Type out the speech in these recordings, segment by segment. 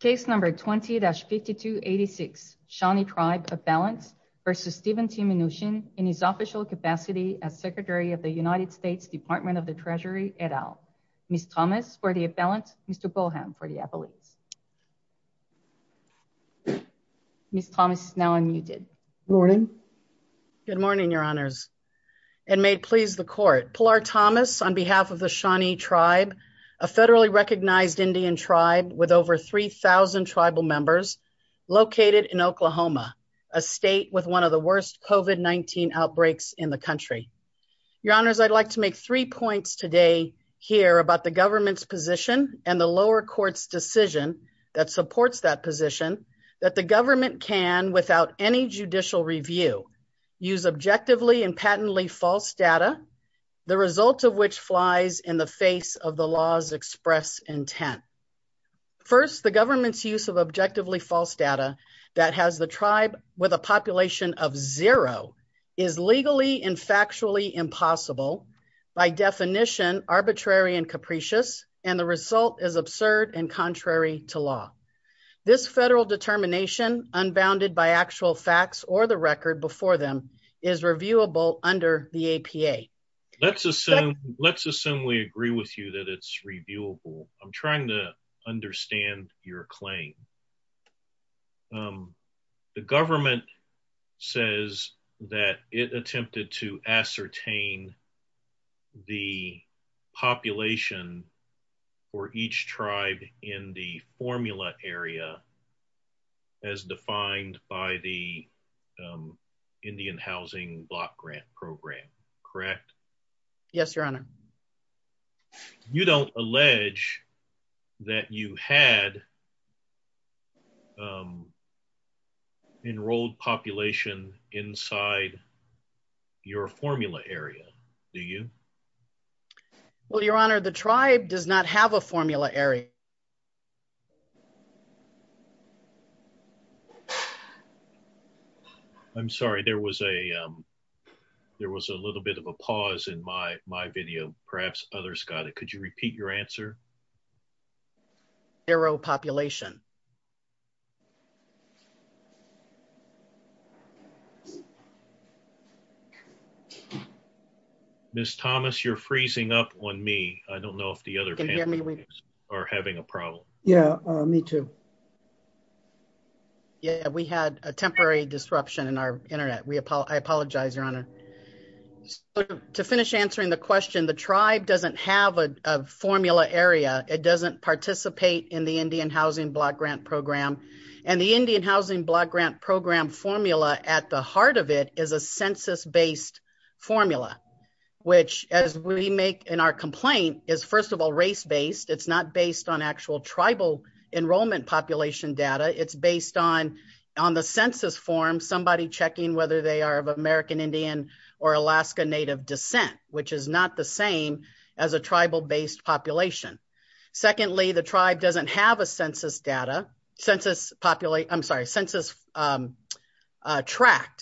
Case No. 20-5286 Shawnee Tribe Appellant v. Steven T. Mnuchin in his official capacity as Secretary of the United States Department of the Treasury et al. Ms. Thomas for the appellant, Mr. Bolham for the appellate. Ms. Thomas is now unmuted. Good morning. Good morning, Your Honors. And may it please the court. Pillar Thomas on behalf of the Shawnee Tribe, a federally recognized Indian tribe with over 3,000 tribal members, located in Oklahoma, a state with one of the worst COVID-19 outbreaks in the country. Your Honors, I'd like to make three points today here about the government's position and the lower court's decision that supports that position, that the government can, without any judicial review, use objectively and patently false data, the result of which flies in the face of the law's express intent. First, the government's use of objectively false data that has the tribe with a population of zero is legally and factually impossible, by definition, arbitrary and capricious, and the result is absurd and contrary to law. This federal determination, unbounded by actual facts or the record before them, is reviewable under the APA. Let's assume we agree with you that it's reviewable. I'm trying to understand your claim. The government says that it attempted to ascertain the population for each tribe in the formula area as defined by the Indian Housing Block Grant Program, correct? Yes, Your Honor. You don't allege that you had enrolled population inside your formula area, do you? Well, Your Honor, the tribe does not have a formula area. I'm sorry, there was a little bit of a pause in my video. Perhaps others got it. Could you repeat your answer? Zero population. Ms. Thomas, you're freezing up on me. I don't know if the other panelists are having a problem. Yeah, me too. Yeah, we had a temporary disruption in our internet. I apologize, Your Honor. To finish answering the question, the tribe doesn't have a formula area. It doesn't participate in the Indian Housing Block Grant Program. And the Indian Housing Block Grant Program formula at the heart of it is a census-based formula. Which, as we make in our complaint, is first of all race-based. It's not based on actual tribal enrollment population data. It's based on the census form, somebody checking whether they are of American Indian or Alaska Native descent, which is not the same as a tribal-based population. Secondly, the tribe doesn't have a census tract,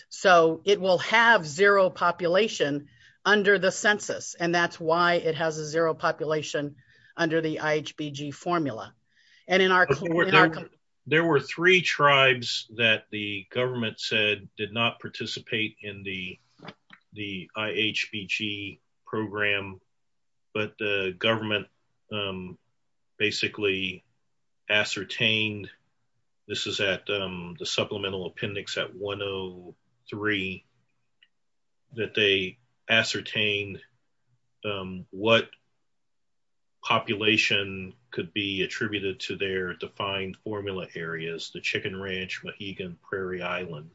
so it will have zero population under the census. And that's why it has a zero population under the IHBG formula. There were three tribes that the government said did not participate in the IHBG program. But the government basically ascertained, this is at the supplemental appendix at 103, that they ascertained what population could be attributed to their defined formula areas, the Chicken Ranch, Mohegan, Prairie Island.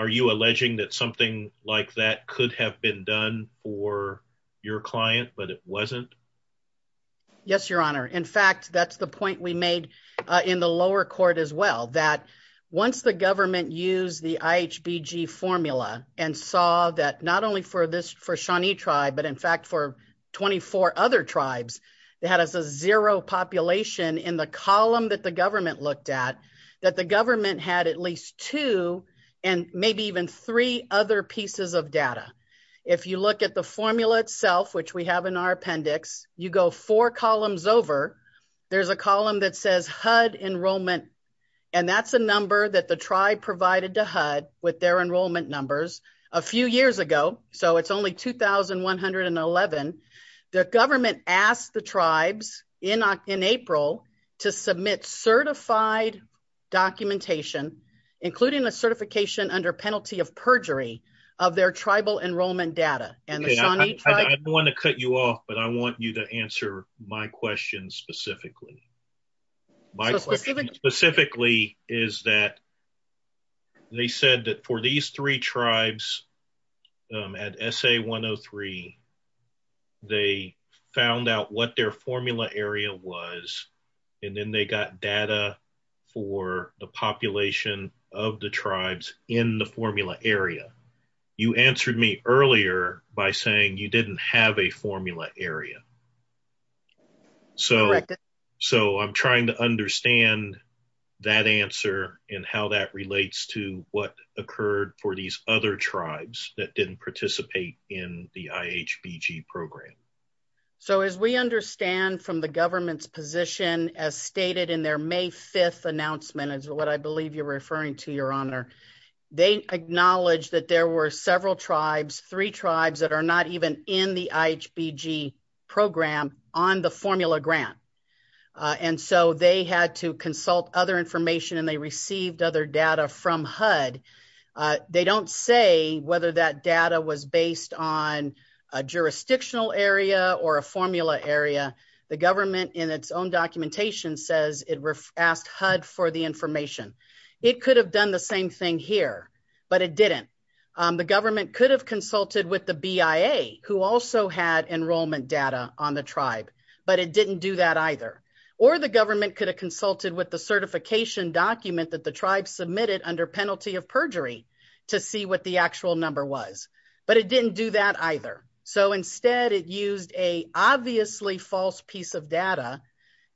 Are you alleging that something like that could have been done for your client, but it wasn't? Yes, Your Honor. In fact, that's the point we made in the lower court as well. That once the government used the IHBG formula and saw that not only for Shawnee tribe, but in fact for 24 other tribes, they had a zero population in the column that the government looked at, that the government had at least two and maybe even three other pieces of data. If you look at the formula itself, which we have in our appendix, you go four columns over. There's a column that says HUD enrollment, and that's a number that the tribe provided to HUD with their enrollment numbers a few years ago. So it's only 2,111. The government asked the tribes in April to submit certified documentation, including a certification under penalty of perjury of their tribal enrollment data. I don't want to cut you off, but I want you to answer my question specifically. My question specifically is that they said that for these three tribes at SA-103, they found out what their formula area was, and then they got data for the population of the tribes in the formula area. You answered me earlier by saying you didn't have a formula area. Correct. So I'm trying to understand that answer and how that relates to what occurred for these other tribes that didn't participate in the IHBG program. So as we understand from the government's position, as stated in their May 5th announcement, as what I believe you're referring to, Your Honor, they acknowledged that there were several tribes, three tribes that are not even in the IHBG program on the formula grant. And so they had to consult other information and they received other data from HUD. They don't say whether that data was based on a jurisdictional area or a formula area. The government in its own documentation says it asked HUD for the information. It could have done the same thing here, but it didn't. The government could have consulted with the BIA, who also had enrollment data on the tribe, but it didn't do that either. Or the government could have consulted with the certification document that the tribe submitted under penalty of perjury to see what the actual number was, but it didn't do that either. So instead it used a obviously false piece of data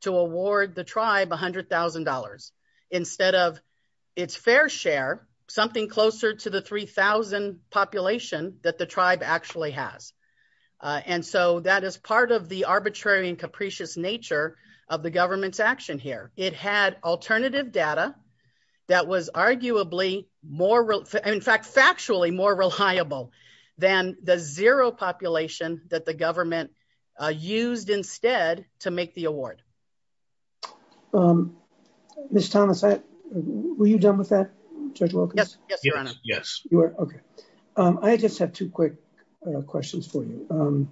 to award the tribe $100,000 instead of its fair share, something closer to the 3,000 population that the tribe actually has. And so that is part of the arbitrary and capricious nature of the government's action here. It had alternative data that was arguably more, in fact, factually more reliable than the zero population that the government used instead to make the award. Mr. Thomas, were you done with that, Judge Wilkins? Yes, Your Honor. I just have two quick questions for you.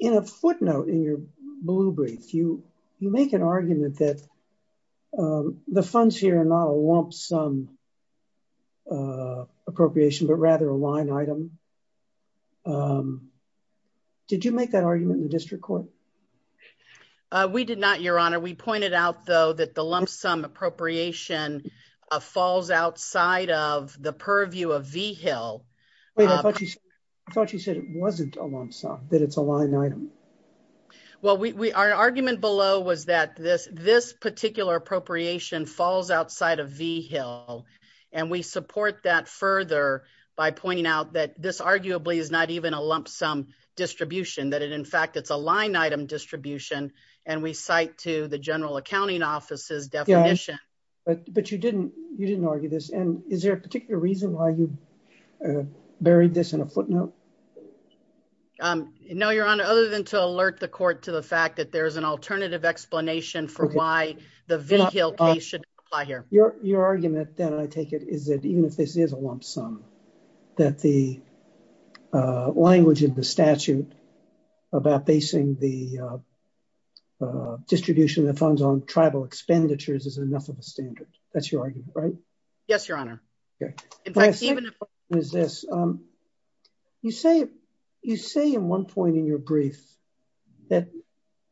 In a footnote in your blue brief, you make an argument that the funds here are not a lump sum appropriation, but rather a line item. Did you make that argument in the district court? We did not, Your Honor. We pointed out, though, that the lump sum appropriation falls outside of the purview of V-Hill. I thought you said it wasn't a lump sum, that it's a line item. Well, our argument below was that this particular appropriation falls outside of V-Hill, and we support that further by pointing out that this arguably is not even a lump sum distribution, that in fact it's a line item distribution, and we cite to the General Accounting Office's definition. But you didn't argue this, and is there a particular reason why you buried this in a footnote? No, Your Honor, other than to alert the court to the fact that there's an alternative explanation for why the V-Hill case should apply here. Your argument, then, I take it, is that even if this is a lump sum, that the language in the statute about basing the distribution of funds on tribal expenditures is enough of a standard. That's your argument, right? Yes, Your Honor. My second question is this. You say at one point in your brief that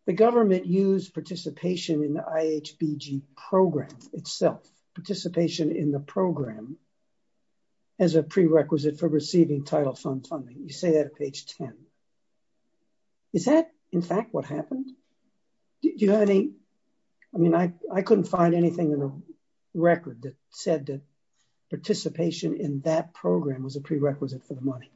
the government used participation in the IHBG program itself, participation in the program, as a prerequisite for receiving title fund funding. You say that at page 10. Is that, in fact, what happened? I mean, I couldn't find anything in the record that said that participation in that program was a prerequisite for the money.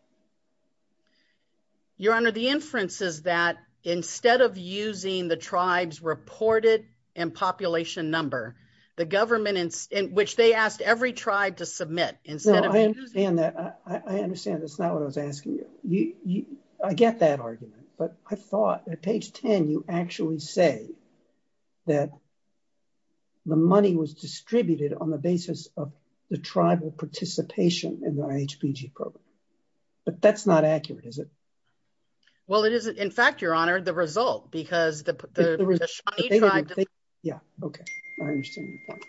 Your Honor, the inference is that instead of using the tribe's reported and population number, the government, in which they asked every tribe to submit, instead of using… Dan, I understand that's not what I was asking you. I get that argument, but I thought at page 10 you actually say that the money was distributed on the basis of the tribal participation in the IHBG program. But that's not accurate, is it? Well, it isn't. In fact, Your Honor, the result, because the Shawnee tribe… Yeah, okay. I understand your point.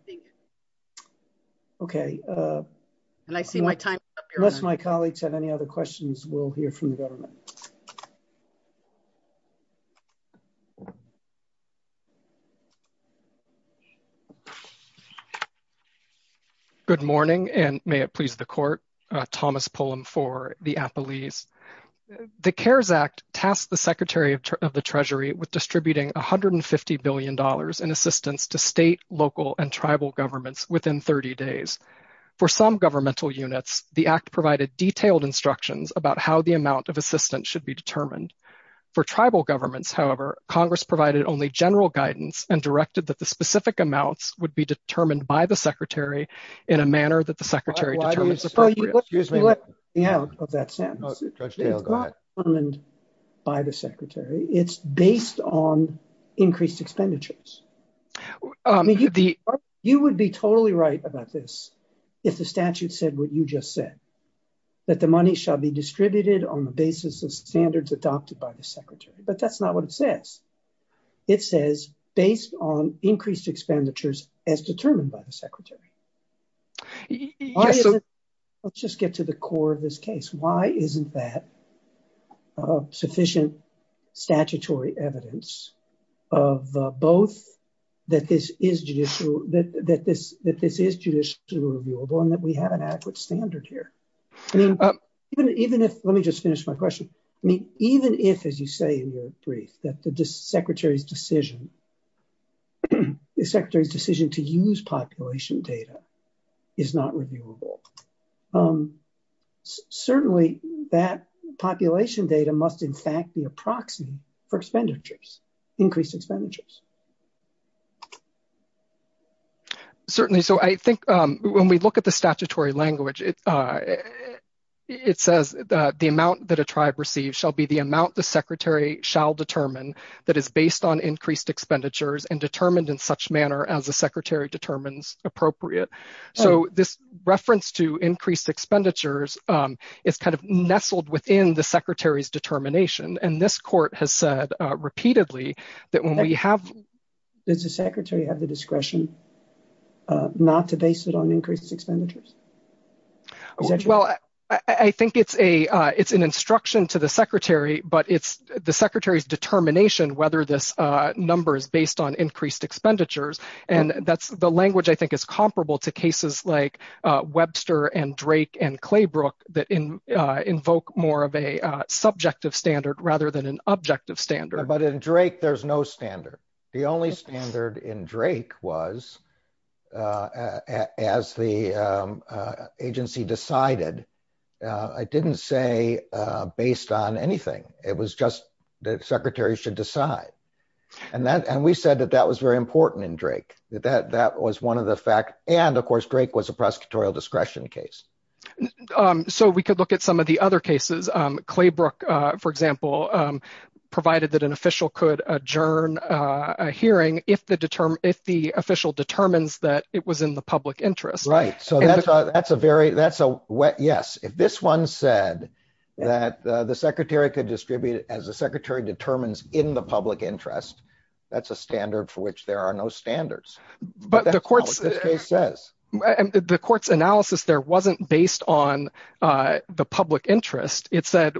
I think… Okay. And I see my time is up, Your Honor. Unless my colleagues have any other questions, we'll hear from the government. Good morning, and may it please the Court. Thomas Pullum for the Appellees. The CARES Act tasked the Secretary of the Treasury with distributing $150 billion in assistance to state, local, and tribal governments within 30 days. For some governmental units, the Act provided detailed instructions about how the amount of assistance should be determined. For tribal governments, however, Congress provided only general guidance and directed that the specific amounts would be determined by the Secretary in a manner that the Secretary determines appropriate. Excuse me. It's not determined by the Secretary. It's based on increased expenditures. You would be totally right about this if the statute said what you just said, that the money shall be distributed on the basis of standards adopted by the Secretary. But that's not what it says. It says, based on increased expenditures as determined by the Secretary. Let's just get to the core of this case. Why isn't that sufficient statutory evidence of both that this is judicially reviewable and that we have an accurate standard here? Let me just finish my question. Even if, as you say in your brief, that the Secretary's decision to use population data is not reviewable, certainly that population data must in fact be a proxy for increased expenditures. Certainly. So I think when we look at the statutory language, it says the amount that a tribe receives shall be the amount the Secretary shall determine that is based on increased expenditures and determined in such manner as the Secretary determines appropriate. So this reference to increased expenditures is kind of nestled within the Secretary's determination. And this court has said repeatedly that when we have... Does the Secretary have the discretion not to base it on increased expenditures? Well, I think it's an instruction to the Secretary, but it's the Secretary's determination whether this number is based on increased expenditures. And that's the language I think is comparable to cases like Webster and Drake and Claybrook that invoke more of a subjective standard rather than an objective standard. But in Drake, there's no standard. The only standard in Drake was, as the agency decided, I didn't say based on anything. It was just the Secretary should decide. And we said that that was very important in Drake. That was one of the facts. And, of course, Drake was a prosecutorial discretion case. So we could look at some of the other cases. Claybrook, for example, provided that an official could adjourn a hearing if the official determines that it was in the public interest. Right. So that's a very that's a wet yes. If this one said that the Secretary could distribute it as the Secretary determines in the public interest, that's a standard for which there are no standards. But the court says the court's analysis there wasn't based on the public interest. It said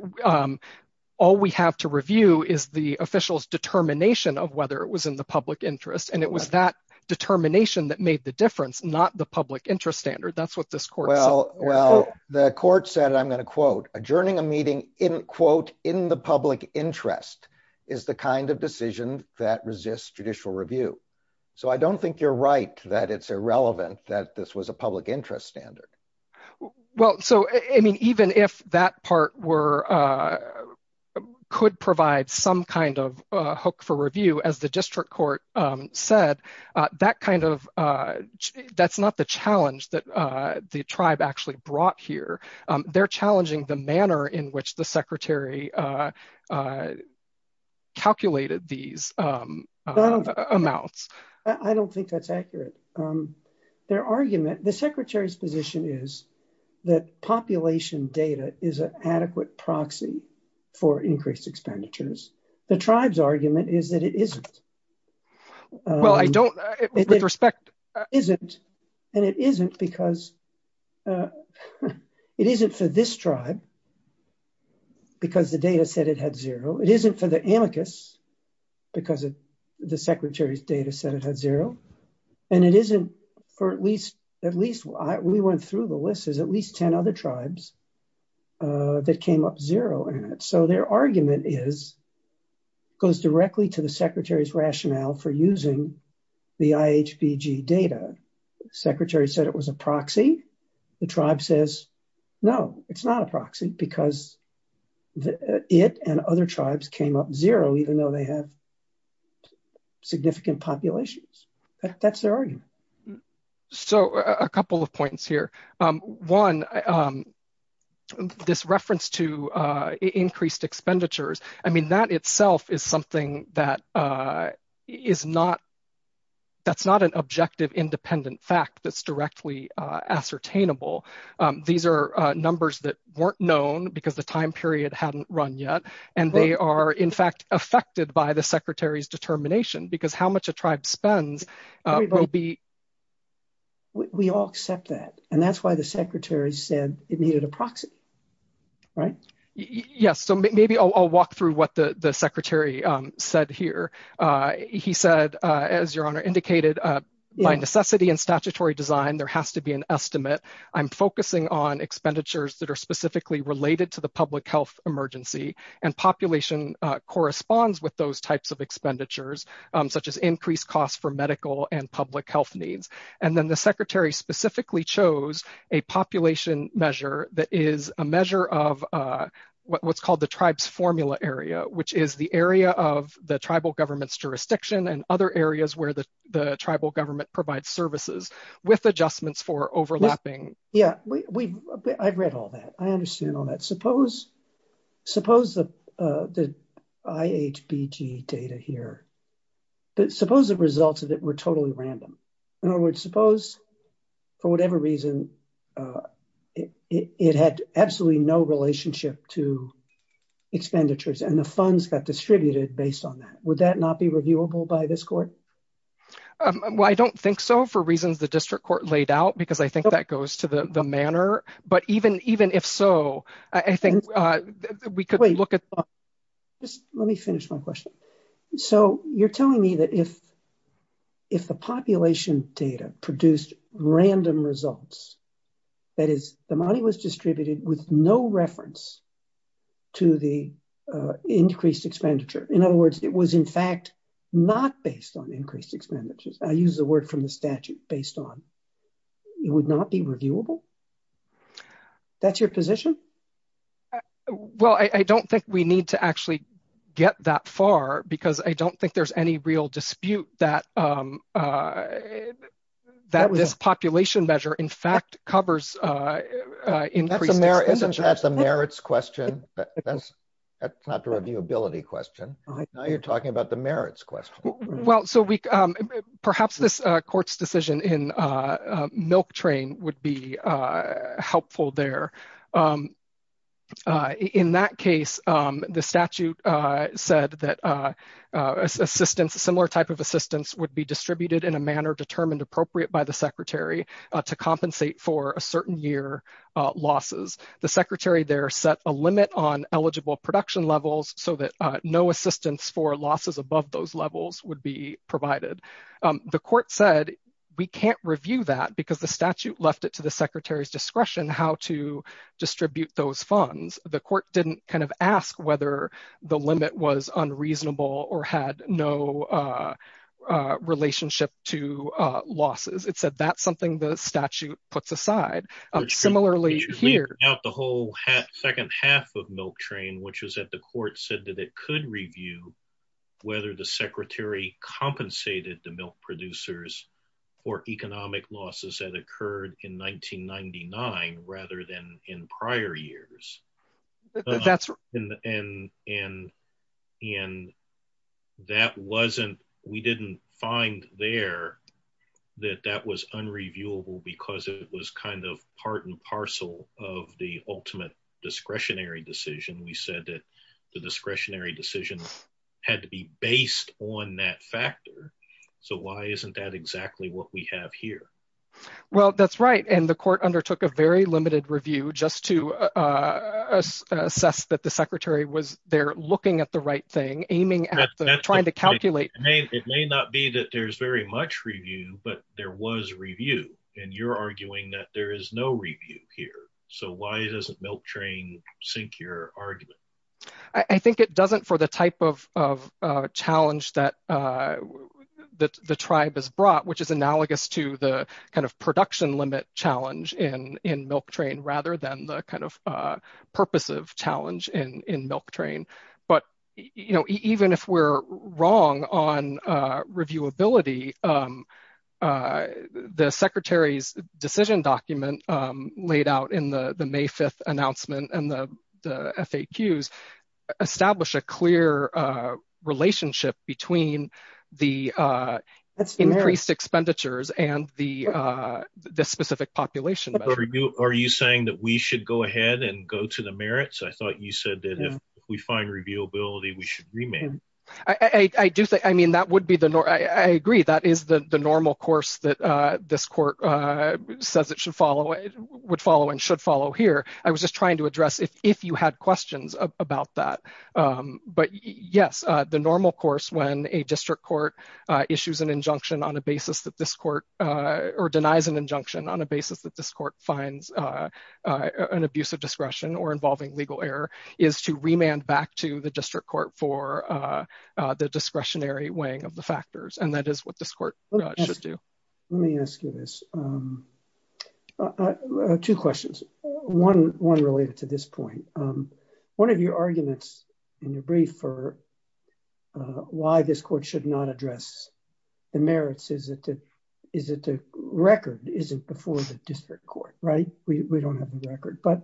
all we have to review is the official's determination of whether it was in the public interest. And it was that determination that made the difference, not the public interest standard. That's what this court. Well, well, the court said, I'm going to quote adjourning a meeting in quote in the public interest is the kind of decision that resists judicial review. So I don't think you're right that it's irrelevant that this was a public interest standard. Well, so, I mean, even if that part were could provide some kind of hook for review as the district court said that kind of that's not the challenge that the tribe actually brought here. They're challenging the manner in which the secretary calculated these amounts. I don't think that's accurate. Their argument, the secretary's position is that population data is an adequate proxy for increased expenditures. The tribe's argument is that it isn't. Well, I don't, with respect. It isn't. And it isn't because it isn't for this tribe, because the data said it had zero. It isn't for the amicus, because the secretary's data said it had zero. And it isn't for at least, at least we went through the list is at least 10 other tribes that came up zero. So their argument is goes directly to the secretary's rationale for using the IHBG data. Secretary said it was a proxy. The tribe says, No, it's not a proxy because it and other tribes came up zero, even though they have significant populations. That's their argument. So a couple of points here. One, this reference to increased expenditures. I mean, that itself is something that is not. That's not an objective, independent fact that's directly ascertainable. These are numbers that weren't known because the time period hadn't run yet. And they are, in fact, affected by the secretary's determination because how much a tribe spends will be. We all accept that. And that's why the secretary said it needed a proxy. Right. Yes. So maybe I'll walk through what the secretary said here. He said, as your honor indicated, by necessity and statutory design, there has to be an estimate. I'm focusing on expenditures that are specifically related to the public health emergency. And population corresponds with those types of expenditures, such as increased costs for medical and public health needs. And then the secretary specifically chose a population measure that is a measure of what's called the tribes formula area, which is the area of the tribal government's jurisdiction and other areas where the tribal government provides services with adjustments for overlapping. Yeah, I've read all that. I understand all that. Suppose the IHBG data here, suppose the results of it were totally random. In other words, suppose for whatever reason, it had absolutely no relationship to expenditures and the funds got distributed based on that. Would that not be reviewable by this court? Well, I don't think so for reasons the district court laid out, because I think that goes to the manner. But even even if so, I think we could look at this. Let me finish my question. So you're telling me that if if the population data produced random results, that is the money was distributed with no reference to the increased expenditure. In other words, it was, in fact, not based on increased expenditures. I use the word from the statute based on it would not be reviewable. That's your position. Well, I don't think we need to actually get that far because I don't think there's any real dispute that that was this population measure, in fact, covers. Isn't that the merits question? That's not the reviewability question. Now you're talking about the merits question. Well, so we perhaps this court's decision in Milk Train would be helpful there. In that case, the statute said that assistance, similar type of assistance would be distributed in a manner determined appropriate by the secretary to compensate for a certain year losses. The secretary there set a limit on eligible production levels so that no assistance for losses above those levels would be provided. The court said we can't review that because the statute left it to the secretary's discretion how to distribute those funds. The court didn't kind of ask whether the limit was unreasonable or had no relationship to losses. It said that's something the statute puts aside. Similarly, here. The whole second half of Milk Train, which was at the court, said that it could review whether the secretary compensated the milk producers for economic losses that occurred in 1999 rather than in prior years. And we didn't find there that that was unreviewable because it was kind of part and parcel of the ultimate discretionary decision. We said that the discretionary decision had to be based on that factor. So why isn't that exactly what we have here? Well, that's right. And the court undertook a very limited review just to assess that the secretary was there looking at the right thing, aiming at trying to calculate. It may not be that there's very much review, but there was review. And you're arguing that there is no review here. So why doesn't Milk Train sink your argument? I think it doesn't for the type of challenge that the tribe has brought, which is analogous to the kind of production limit challenge in Milk Train rather than the kind of purpose of challenge in Milk Train. But even if we're wrong on reviewability, the secretary's decision document laid out in the May 5th announcement and the FAQs establish a clear relationship between the increased expenditures and the specific population. Are you saying that we should go ahead and go to the merits? I thought you said that if we find reviewability, we should remand. I do think, I mean, that would be the norm. I agree. That is the normal course that this court says it should follow, would follow and should follow here. I was just trying to address if you had questions about that. But yes, the normal course when a district court issues an injunction on a basis that this court or denies an injunction on a basis that this court finds an abuse of discretion or involving legal error is to remand back to the district court for the discretionary weighing of the factors. And that is what this court should do. Let me ask you this. Two questions. One related to this point. One of your arguments in your brief for why this court should not address the merits is that the record isn't before the district court, right? We don't have the record. But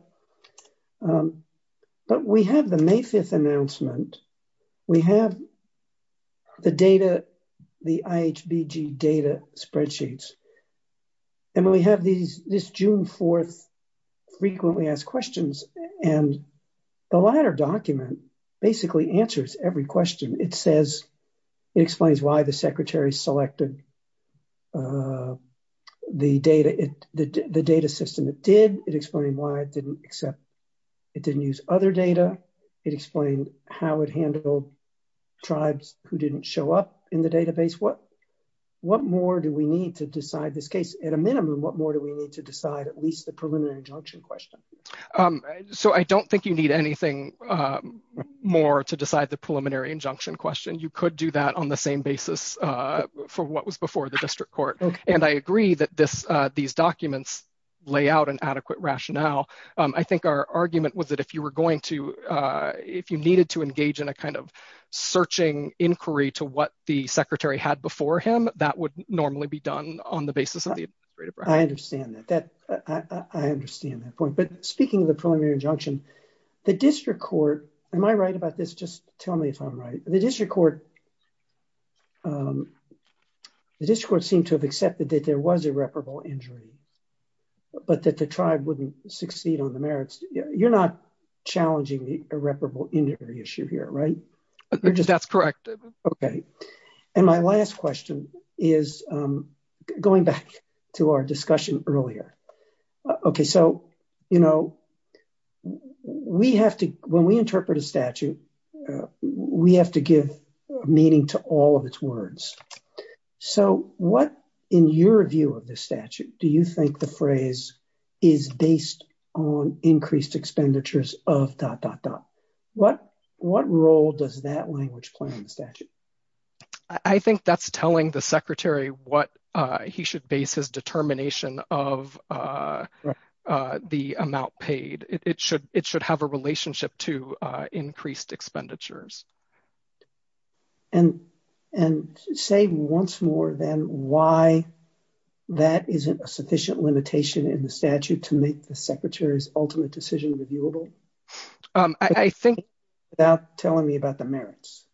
we have the May 5th announcement. We have the data, the IHBG data spreadsheets. And we have this June 4th frequently asked questions. And the latter document basically answers every question. It says, it explains why the secretary selected the data, the data system it did. It explained why it didn't accept, it didn't use other data. It explained how it handled tribes who didn't show up in the database. What more do we need to decide this case? At a minimum, what more do we need to decide at least the preliminary injunction question? So I don't think you need anything more to decide the preliminary injunction question. You could do that on the same basis for what was before the district court. And I agree that this these documents lay out an adequate rationale. I think our argument was that if you were going to if you needed to engage in a kind of searching inquiry to what the secretary had before him, that would normally be done on the basis of the. I understand that. I understand that point. But speaking of the preliminary injunction, the district court, am I right about this? Just tell me if I'm right. The district court. The district court seemed to have accepted that there was irreparable injury. But that the tribe wouldn't succeed on the merits. You're not challenging the irreparable injury issue here, right? That's correct. And my last question is going back to our discussion earlier. OK, so, you know, we have to when we interpret a statute, we have to give meaning to all of its words. So what, in your view of the statute, do you think the phrase is based on increased expenditures of dot dot dot what what role does that language play in the statute? I think that's telling the secretary what he should base his determination of the amount paid. It should it should have a relationship to increased expenditures. And and say once more than why that isn't a sufficient limitation in the statute to make the secretary's ultimate decision reviewable. I think without telling me about the merits.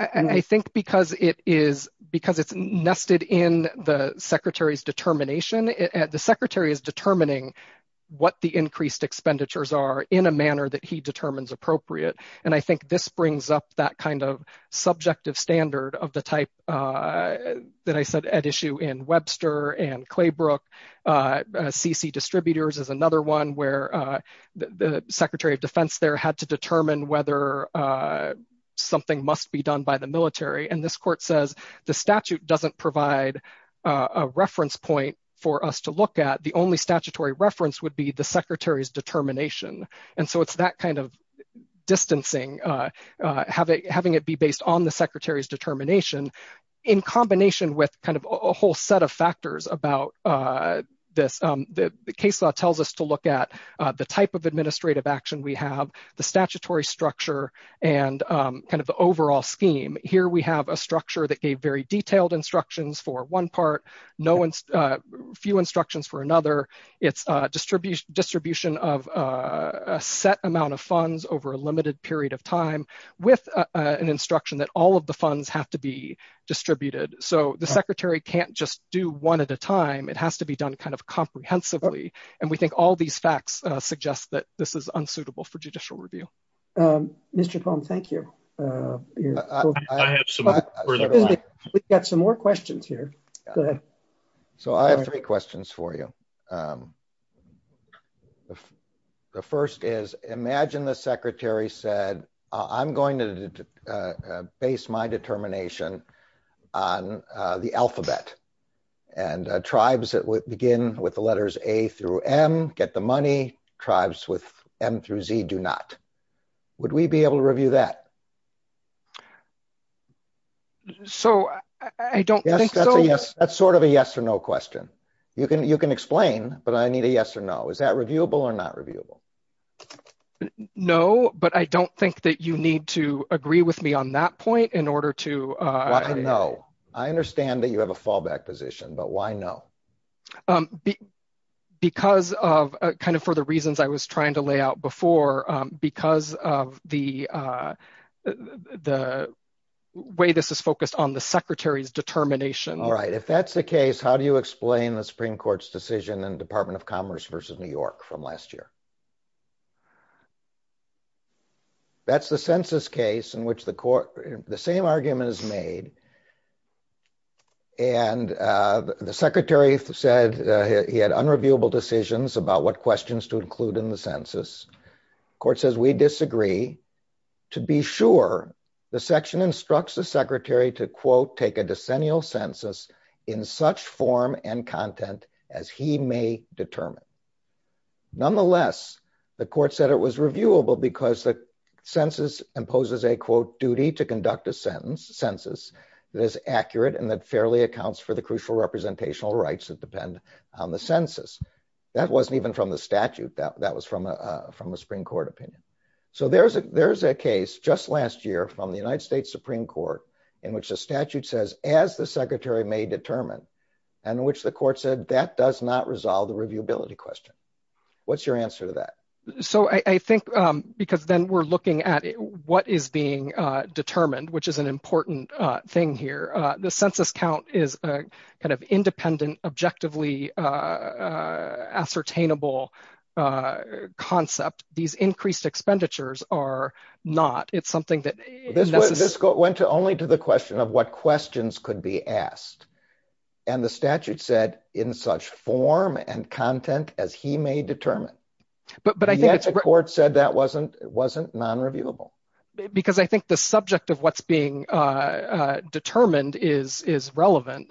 I think because it is because it's nested in the secretary's determination, the secretary is determining what the increased expenditures are in a manner that he determines appropriate. And I think this brings up that kind of subjective standard of the type that I said at issue in Webster and Claybrook. CC distributors is another one where the secretary of defense there had to determine whether something must be done by the military. And this court says the statute doesn't provide a reference point for us to look at the only statutory reference would be the secretary's determination. And so it's that kind of distancing having having it be based on the secretary's determination, in combination with kind of a whole set of factors about this. The case law tells us to look at the type of administrative action we have the statutory structure and kind of the overall scheme. Here we have a structure that gave very detailed instructions for one part. No one's few instructions for another. It's distribution distribution of a set amount of funds over a limited period of time with an instruction that all of the funds have to be distributed. So the secretary can't just do one at a time. It has to be done kind of comprehensively. And we think all these facts suggest that this is unsuitable for judicial review. Mr. Cohn, thank you. We've got some more questions here. So I have three questions for you. The first is, imagine the secretary said, I'm going to base my determination on the alphabet and tribes that would begin with the letters A through M get the money tribes with M through Z do not. Would we be able to review that. So, I don't think so. Yes, that's sort of a yes or no question. You can you can explain, but I need a yes or no. Is that reviewable or not reviewable. No, but I don't think that you need to agree with me on that point in order to Know, I understand that you have a fallback position, but why no Because of kind of for the reasons I was trying to lay out before because of the The way this is focused on the secretary's determination. All right. If that's the case, how do you explain the Supreme Court's decision and Department of Commerce versus New York from last year. That's the census case in which the court, the same argument is made. And the Secretary said he had unreviewable decisions about what questions to include in the census court says we disagree. To be sure the section instructs the Secretary to quote take a decennial census in such form and content as he may determine Nonetheless, the court said it was reviewable because the census imposes a quote duty to conduct a sentence census. That is accurate and that fairly accounts for the crucial representational rights that depend on the census. That wasn't even from the statute that that was from a from a Supreme Court opinion. So there's a there's a case just last year from the United States Supreme Court in which the statute says as the Secretary may determine and which the court said that does not resolve the review ability question. What's your answer to that. So I think because then we're looking at what is being determined, which is an important thing here. The census count is kind of independent objectively Ascertainable Concept. These increased expenditures are not. It's something that Went to only to the question of what questions could be asked. And the statute said in such form and content as he may determine But, but I think it's court said that wasn't wasn't non reviewable Because I think the subject of what's being determined is is relevant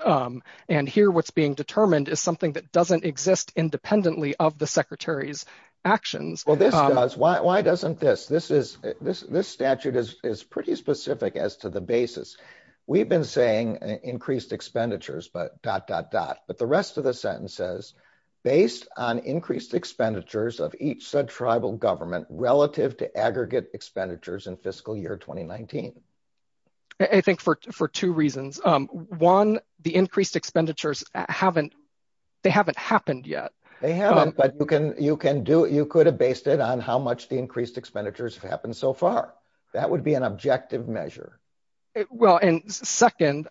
and here what's being determined is something that doesn't exist independently of the Secretary's actions. Well, this does. Why doesn't this, this is this this statute is is pretty specific as to the basis. We've been saying increased expenditures, but dot dot dot but the rest of the sentence says based on increased expenditures of each said tribal government relative to aggregate expenditures and fiscal year 2019 I think for for two reasons. One, the increased expenditures haven't they haven't happened yet. But you can you can do it. You could have based it on how much the increased expenditures have happened so far, that would be an objective measure. Well, and second,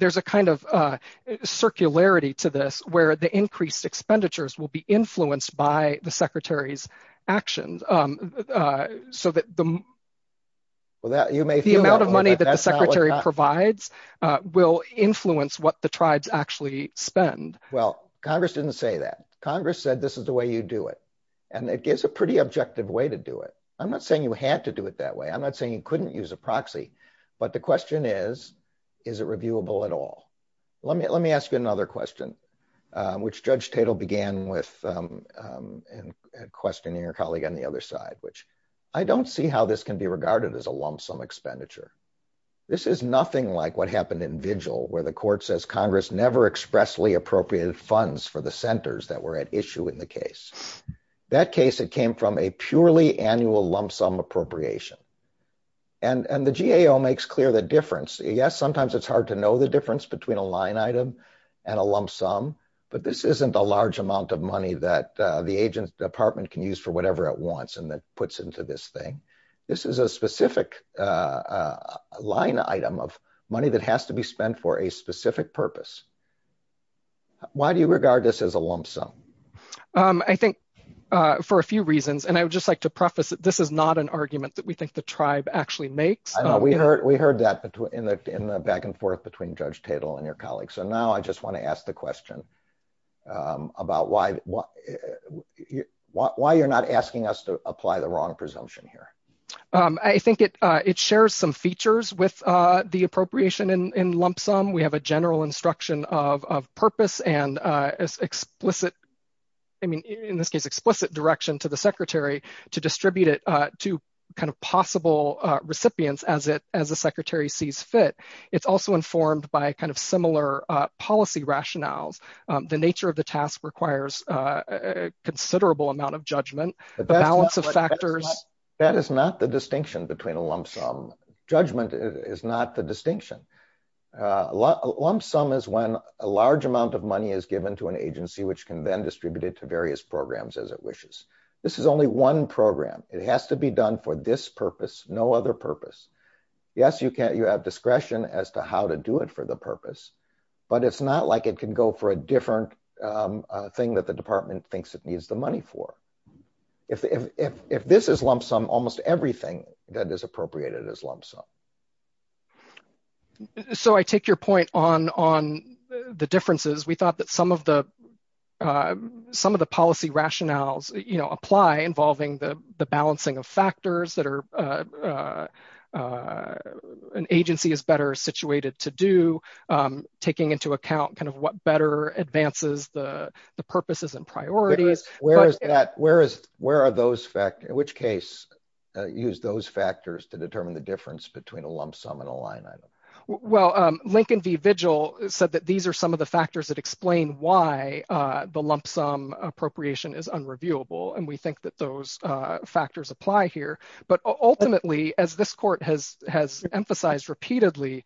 There's a kind of circularity to this where the increased expenditures will be influenced by the Secretary's actions. So that the The amount of money that the Secretary provides will influence what the tribes actually spend Well, Congress didn't say that Congress said this is the way you do it. And it gives a pretty objective way to do it. I'm not saying you had to do it that way. I'm not saying you couldn't use a proxy. But the question is, is it reviewable at all. Let me, let me ask you another question, which Judge Tatel began with Questioning your colleague on the other side, which I don't see how this can be regarded as a lump sum expenditure. This is nothing like what happened in vigil where the court says Congress never expressly appropriated funds for the centers that were at issue in the case. That case, it came from a purely annual lump sum appropriation and and the GAO makes clear the difference. Yes, sometimes it's hard to know the difference between a line item. And a lump sum, but this isn't a large amount of money that the agents department can use for whatever it wants. And that puts into this thing. This is a specific Line item of money that has to be spent for a specific purpose. Why do you regard this as a lump sum I think for a few reasons. And I would just like to preface it. This is not an argument that we think the tribe actually makes We heard, we heard that in the back and forth between Judge Tatel and your colleagues. So now I just want to ask the question. About why Why you're not asking us to apply the wrong presumption here. I think it, it shares some features with the appropriation and lump sum. We have a general instruction of purpose and explicit I mean, in this case, explicit direction to the secretary to distribute it to kind of possible recipients as it as a secretary sees fit. It's also informed by kind of similar policy rationales, the nature of the task requires a considerable amount of judgment. The balance of factors. That is not the distinction between a lump sum. Judgment is not the distinction. Lump sum is when a large amount of money is given to an agency which can then distributed to various programs as it wishes. This is only one program. It has to be done for this purpose. No other purpose. Yes, you can. You have discretion as to how to do it for the purpose, but it's not like it can go for a different thing that the department thinks it needs the money for If this is lump sum almost everything that is appropriated as lump sum. So I take your point on on the differences. We thought that some of the Some of the policy rationales, you know, apply involving the balancing of factors that are An agency is better situated to do taking into account kind of what better advances the purposes and priorities. Where is that, where is, where are those factors in which case use those factors to determine the difference between a lump sum and a line item. Well, Lincoln V Vigil said that these are some of the factors that explain why the lump sum appropriation is unreviewable and we think that those factors apply here, but ultimately as this court has has emphasized repeatedly.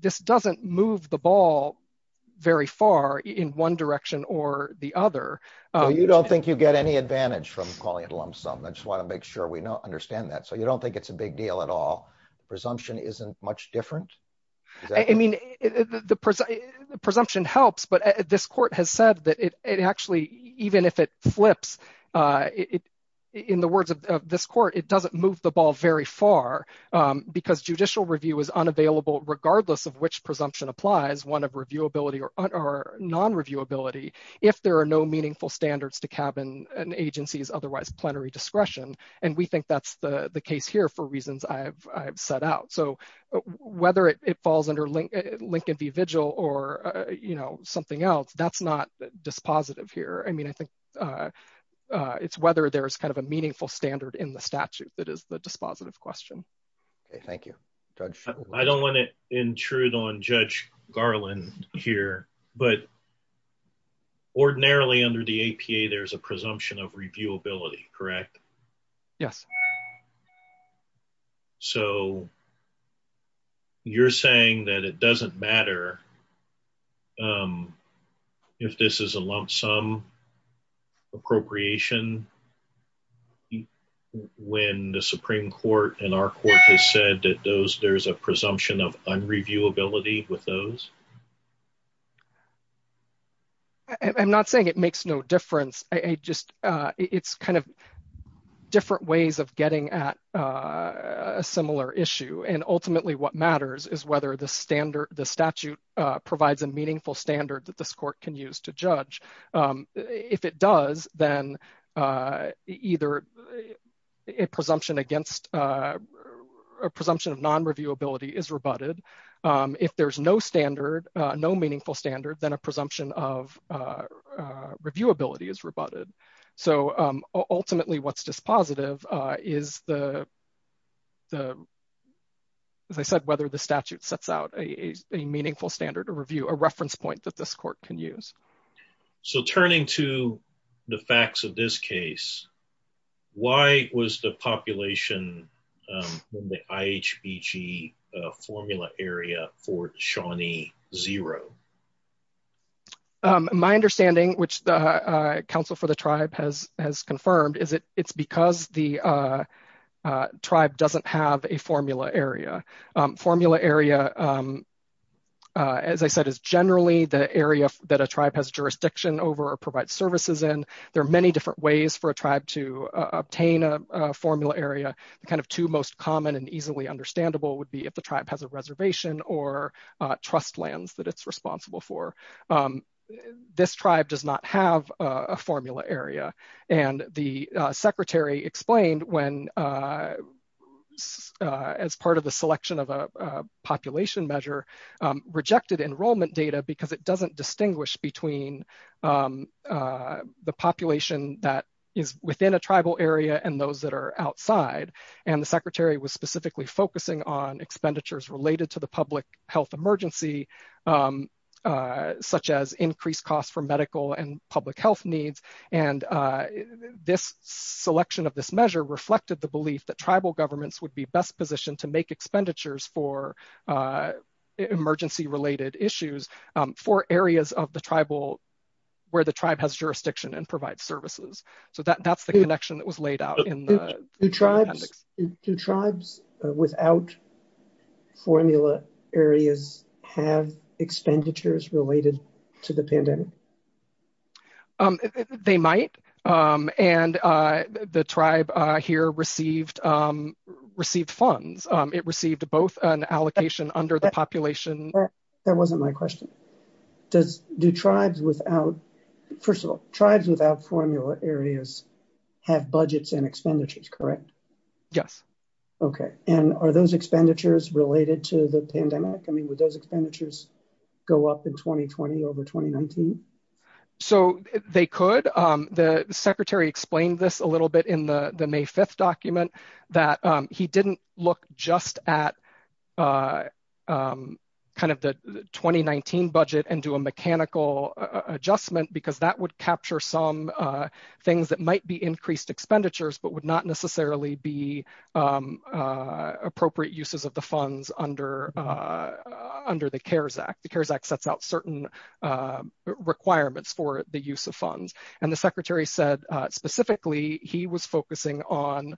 This doesn't move the ball very far in one direction or the other. You don't think you get any advantage from calling it lump sum. I just want to make sure we know understand that. So you don't think it's a big deal at all presumption isn't much different. I mean, the presumption helps, but this court has said that it actually even if it flips it in the words of this court. It doesn't move the ball very far. Because judicial review is unavailable, regardless of which presumption applies one of review ability or non review ability. If there are no meaningful standards to cabin and agencies otherwise plenary discretion and we think that's the case here for reasons I've set out so Whether it falls under Lincoln V Vigil or, you know, something else that's not dispositive here. I mean, I think It's whether there's kind of a meaningful standard in the statute that is the dispositive question. Thank you, Judge. I don't want to intrude on Judge Garland here, but Ordinarily under the APA there's a presumption of reviewability. Correct. Yes. So, You're saying that it doesn't matter. If this is a lump sum Appropriation When the Supreme Court and our court has said that those there's a presumption of review ability with those I'm not saying it makes no difference. I just, it's kind of different ways of getting at A similar issue and ultimately what matters is whether the standard the statute provides a meaningful standard that this court can use to judge if it does, then Either A presumption against A presumption of non review ability is rebutted. If there's no standard no meaningful standard than a presumption of Review ability is rebutted. So ultimately, what's dispositive is the As I said, whether the statute sets out a meaningful standard to review a reference point that this court can use So turning to the facts of this case. Why was the population in the IHBG formula area for Shawnee zero My understanding, which the Council for the tribe has has confirmed is it it's because the Tribe doesn't have a formula area formula area. As I said, is generally the area that a tribe has jurisdiction over provide services and there are many different ways for a tribe to obtain a formula area, the kind of two most common and easily understandable would be if the tribe has a reservation or trust lands that it's responsible for This tribe does not have a formula area and the Secretary explained when As part of the selection of a population measure rejected enrollment data because it doesn't distinguish between The population that is within a tribal area and those that are outside and the Secretary was specifically focusing on expenditures related to the public health emergency. Such as increased costs for medical and public health needs and this selection of this measure reflected the belief that tribal governments would be best positioned to make expenditures for Emergency related issues for areas of the tribal where the tribe has jurisdiction and provide services so that that's the connection that was laid out in The tribes to tribes without formula areas have expenditures related to the pandemic. They might and the tribe here received received funds it received both an allocation under the population. That wasn't my question. Does do tribes without first of all tribes without formula areas have budgets and expenditures. Correct. Yes. Okay. And are those expenditures related to the pandemic. I mean, with those expenditures go up in 2020 over 2019 So they could the Secretary explained this a little bit in the May 5 document that he didn't look just at Kind of the 2019 budget and do a mechanical adjustment because that would capture some things that might be increased expenditures, but would not necessarily be Appropriate uses of the funds under Under the CARES Act. The CARES Act sets out certain requirements for the use of funds and the Secretary said specifically he was focusing on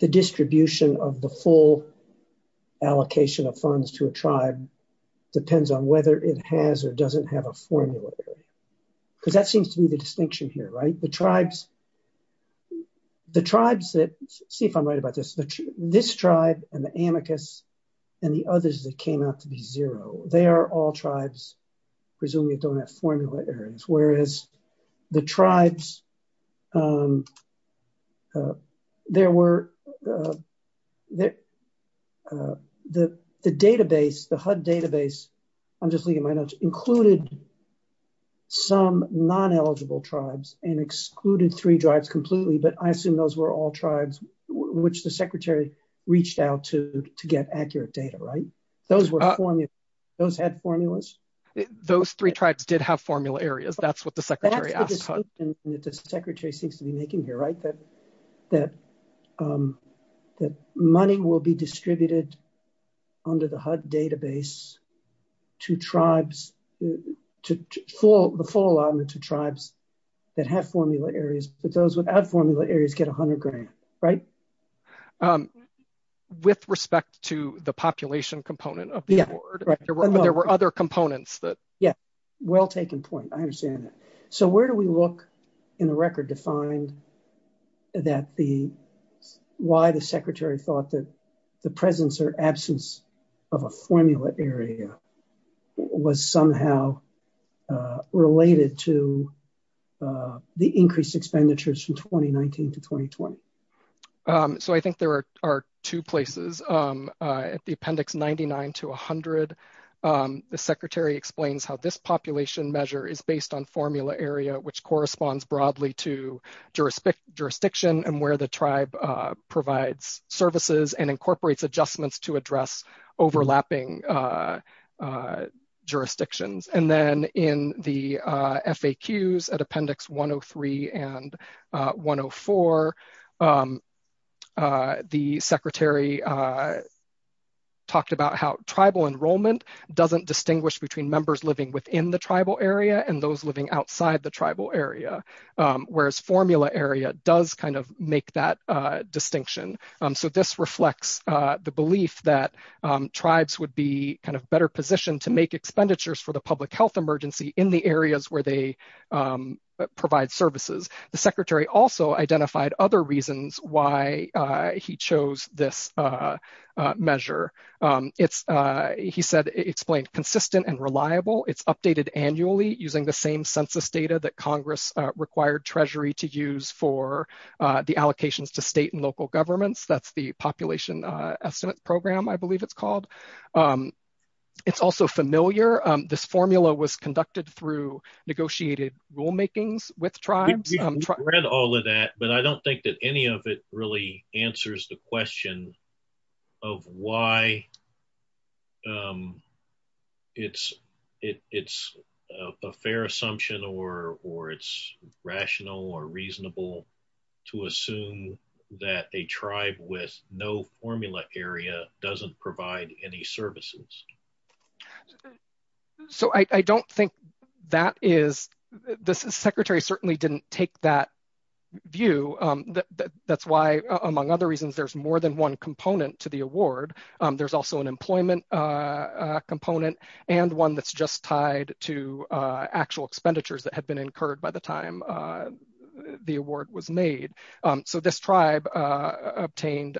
The distribution of the full allocation of funds to a tribe. Depends on whether it has or doesn't have a formula. Because that seems to be the distinction here right the tribes. The tribes that see if I'm right about this, this tribe and the amicus and the others that came out to be zero. They are all tribes, presumably don't have formula areas, whereas the tribes. There were There. The database, the HUD database. I'm just leaving my notes included Some non eligible tribes and excluded three drives completely, but I assume those were all tribes which the Secretary reached out to to get accurate data right those were Those had formulas. Those three tribes did have formula areas. That's what the Secretary The Secretary seems to be making here right that that That money will be distributed under the HUD database to tribes to full the full on the two tribes that have formula areas that those without formula areas get 100 grand right With respect to the population component of the There were other components that Yeah, well taken point. I understand that. So where do we look in the record to find that the why the Secretary thought that the presence or absence of a formula area was somehow Related to The increased expenditures from 2019 to 2020 So I think there are two places at the appendix 99 to 100 The Secretary explains how this population measure is based on formula area which corresponds broadly to jurisdiction jurisdiction and where the tribe provides services and incorporates adjustments to address overlapping Jurisdictions and then in the FAQs at appendix 103 and 104 The Secretary Talked about how tribal enrollment doesn't distinguish between members living within the tribal area and those living outside the tribal area. Whereas formula area does kind of make that distinction. So this reflects the belief that tribes would be kind of better positioned to make expenditures for the public health emergency in the areas where they Provide services. The Secretary also identified other reasons why he chose this Measure it's he said explained consistent and reliable. It's updated annually using the same census data that Congress required Treasury to use for the allocations to state and local governments. That's the population estimate program. I believe it's called It's also familiar. This formula was conducted through negotiated rulemakings with tribes. Read all of that, but I don't think that any of it really answers the question of why It's it's a fair assumption or or it's rational or reasonable to assume that a tribe with no formula area doesn't provide any services. So I don't think that is this is Secretary certainly didn't take that view. That's why, among other reasons, there's more than one component to the award. There's also an employment. Component and one that's just tied to actual expenditures that had been incurred by the time The award was made. So this tribe obtained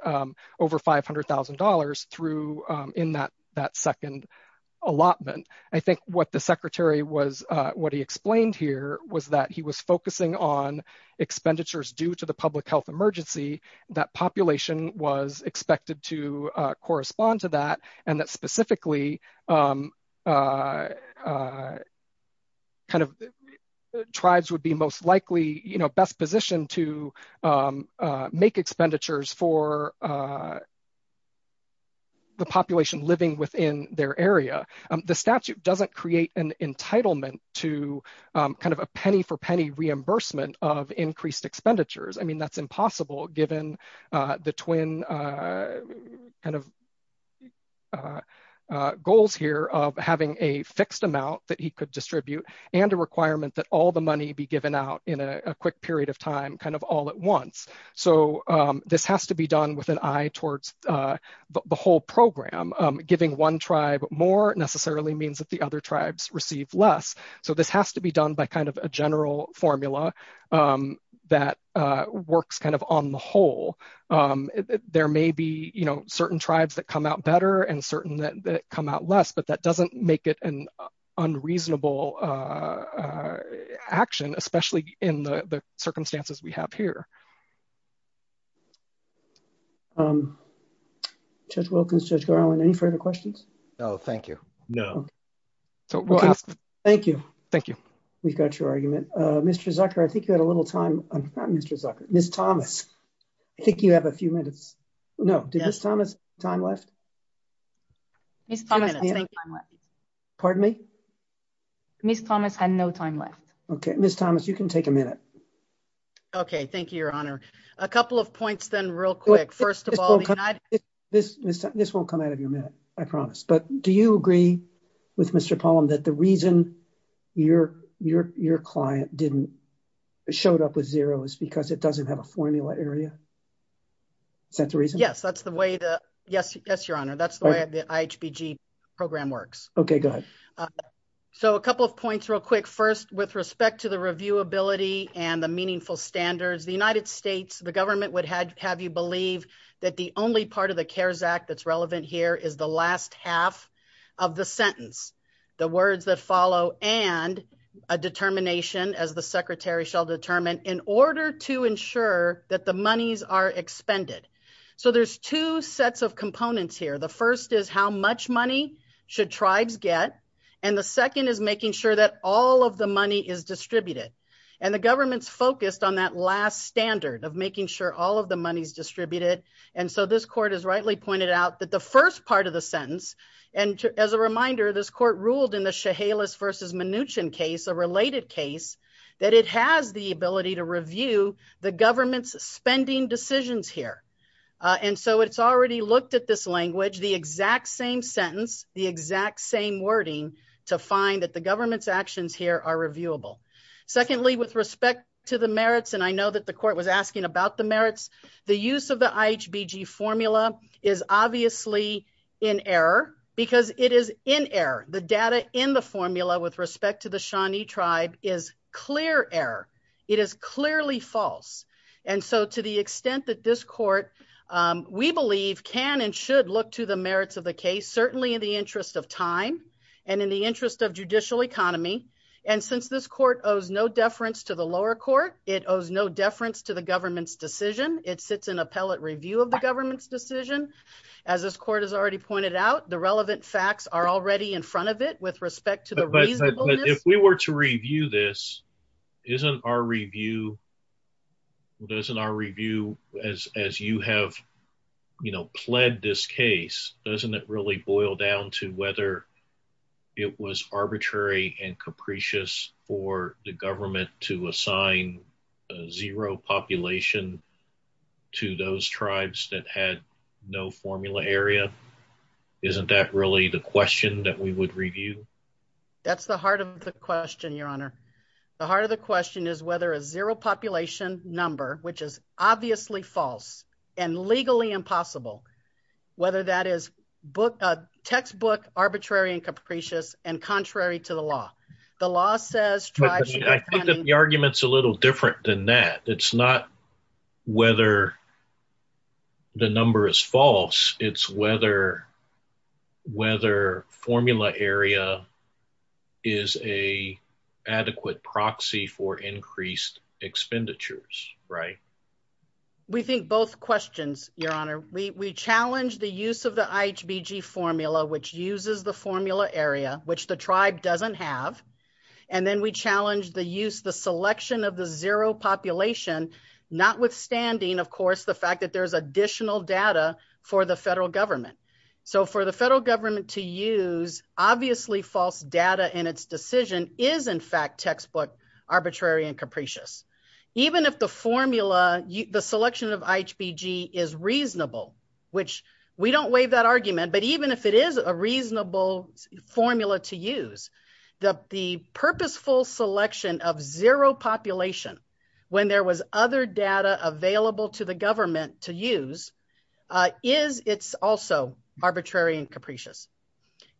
over $500,000 through in that that second Allotment. I think what the Secretary was what he explained here was that he was focusing on expenditures due to the public health emergency that population was expected to correspond to that and that specifically Kind of tribes would be most likely you know best position to Make expenditures for The population living within their area, the statute doesn't create an entitlement to kind of a penny for penny reimbursement of increased expenditures. I mean, that's impossible, given the twin. Goals here of having a fixed amount that he could distribute and a requirement that all the money be given out in a quick period of time, kind of all at once. So this has to be done with an eye towards The whole program giving one tribe more necessarily means that the other tribes receive less. So this has to be done by kind of a general formula. That works, kind of, on the whole, there may be, you know, certain tribes that come out better and certain that come out less, but that doesn't make it an unreasonable. Action, especially in the circumstances we have here. Judge Wilkins, Judge Garland, any further questions. Oh, thank you. No. Thank you. Thank you. We've got your argument. Mr. Zucker, I think you had a little time. Mr. Zucker, Miss Thomas. I think you have a few minutes. No. Yes, Thomas time left. Pardon me. Miss Thomas had no time left. Okay, Miss Thomas, you can take a minute. Okay, thank you, Your Honor. A couple of points then real quick. First of all, This won't come out of your minute, I promise. But do you agree with Mr. Pollan that the reason your client didn't showed up with zero is because it doesn't have a formula area? Is that the reason? Yes, that's the way the, yes, yes, Your Honor. That's the way the IHBG program works. Okay, good. So a couple of points real quick. First, with respect to the reviewability and the meaningful standards, the United States, the government would have you believe that the only part of the CARES Act that's relevant here is the last half of the sentence. The words that follow and a determination as the secretary shall determine in order to ensure that the monies are expended. So there's two sets of components here. The first is how much money should tribes get. And the second is making sure that all of the money is distributed. And the government's focused on that last standard of making sure all of the money is distributed. And so this court is rightly pointed out that the first part of the sentence. And as a reminder, this court ruled in the Chehalis versus Mnuchin case, a related case, that it has the ability to review the government's spending decisions here. And so it's already looked at this language, the exact same sentence, the exact same wording to find that the government's actions here are reviewable. Secondly, with respect to the merits, and I know that the court was asking about the merits, the use of the IHBG formula is obviously in error because it is in error. The data in the formula with respect to the Shawnee tribe is clear error. It is clearly false. And so to the extent that this court, we believe, can and should look to the merits of the case, certainly in the interest of time and in the interest of judicial economy. And since this court owes no deference to the lower court, it owes no deference to the government's decision. It sits in appellate review of the government's decision. As this court has already pointed out, the relevant facts are already in front of it with respect to the reasonableness. If we were to review this, isn't our review, as you have, you know, pled this case, doesn't it really boil down to whether it was arbitrary and capricious for the government to assign zero population to those tribes that had no formula area? Isn't that really the question that we would review? That's the heart of the question, Your Honor. The heart of the question is whether a zero population number, which is obviously false and legally impossible, whether that is textbook, arbitrary and capricious and contrary to the law. The law says tribes. I think that the argument's a little different than that. It's not whether the number is false. It's whether whether formula area is a adequate proxy for increased expenditures. Right. We think both questions, Your Honor. We challenge the use of the IHBG formula, which uses the formula area, which the tribe doesn't have. And then we challenge the use, the selection of the zero population, notwithstanding, of course, the fact that there's additional data for the federal government. So for the federal government to use obviously false data in its decision is, in fact, textbook, arbitrary and capricious, even if the formula, the selection of IHBG is reasonable, which we don't waive that argument. But even if it is a reasonable formula to use, the purposeful selection of zero population when there was other data available to the government to use is it's also arbitrary and capricious.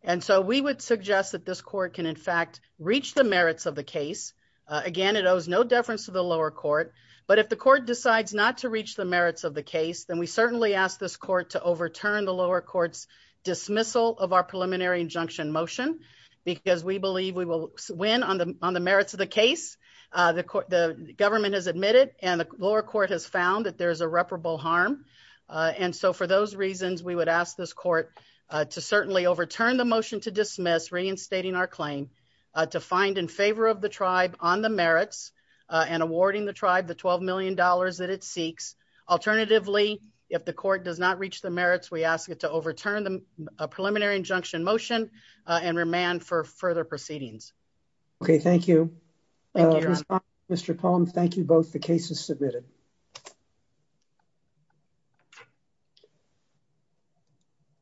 And so we would suggest that this court can, in fact, reach the merits of the case. Again, it owes no deference to the lower court. But if the court decides not to reach the merits of the case, then we certainly ask this court to overturn the lower courts dismissal of our preliminary injunction motion, because we believe we will win on the on the merits of the case. The government has admitted and the lower court has found that there is irreparable harm. And so for those reasons, we would ask this court to certainly overturn the motion to dismiss reinstating our claim to find in favor of the tribe on the merits and awarding the tribe the $12 million that it seeks. Alternatively, if the court does not reach the merits, we ask it to overturn the preliminary injunction motion and remand for further proceedings. OK, thank you. Mr. Palm, thank you both. The case is submitted.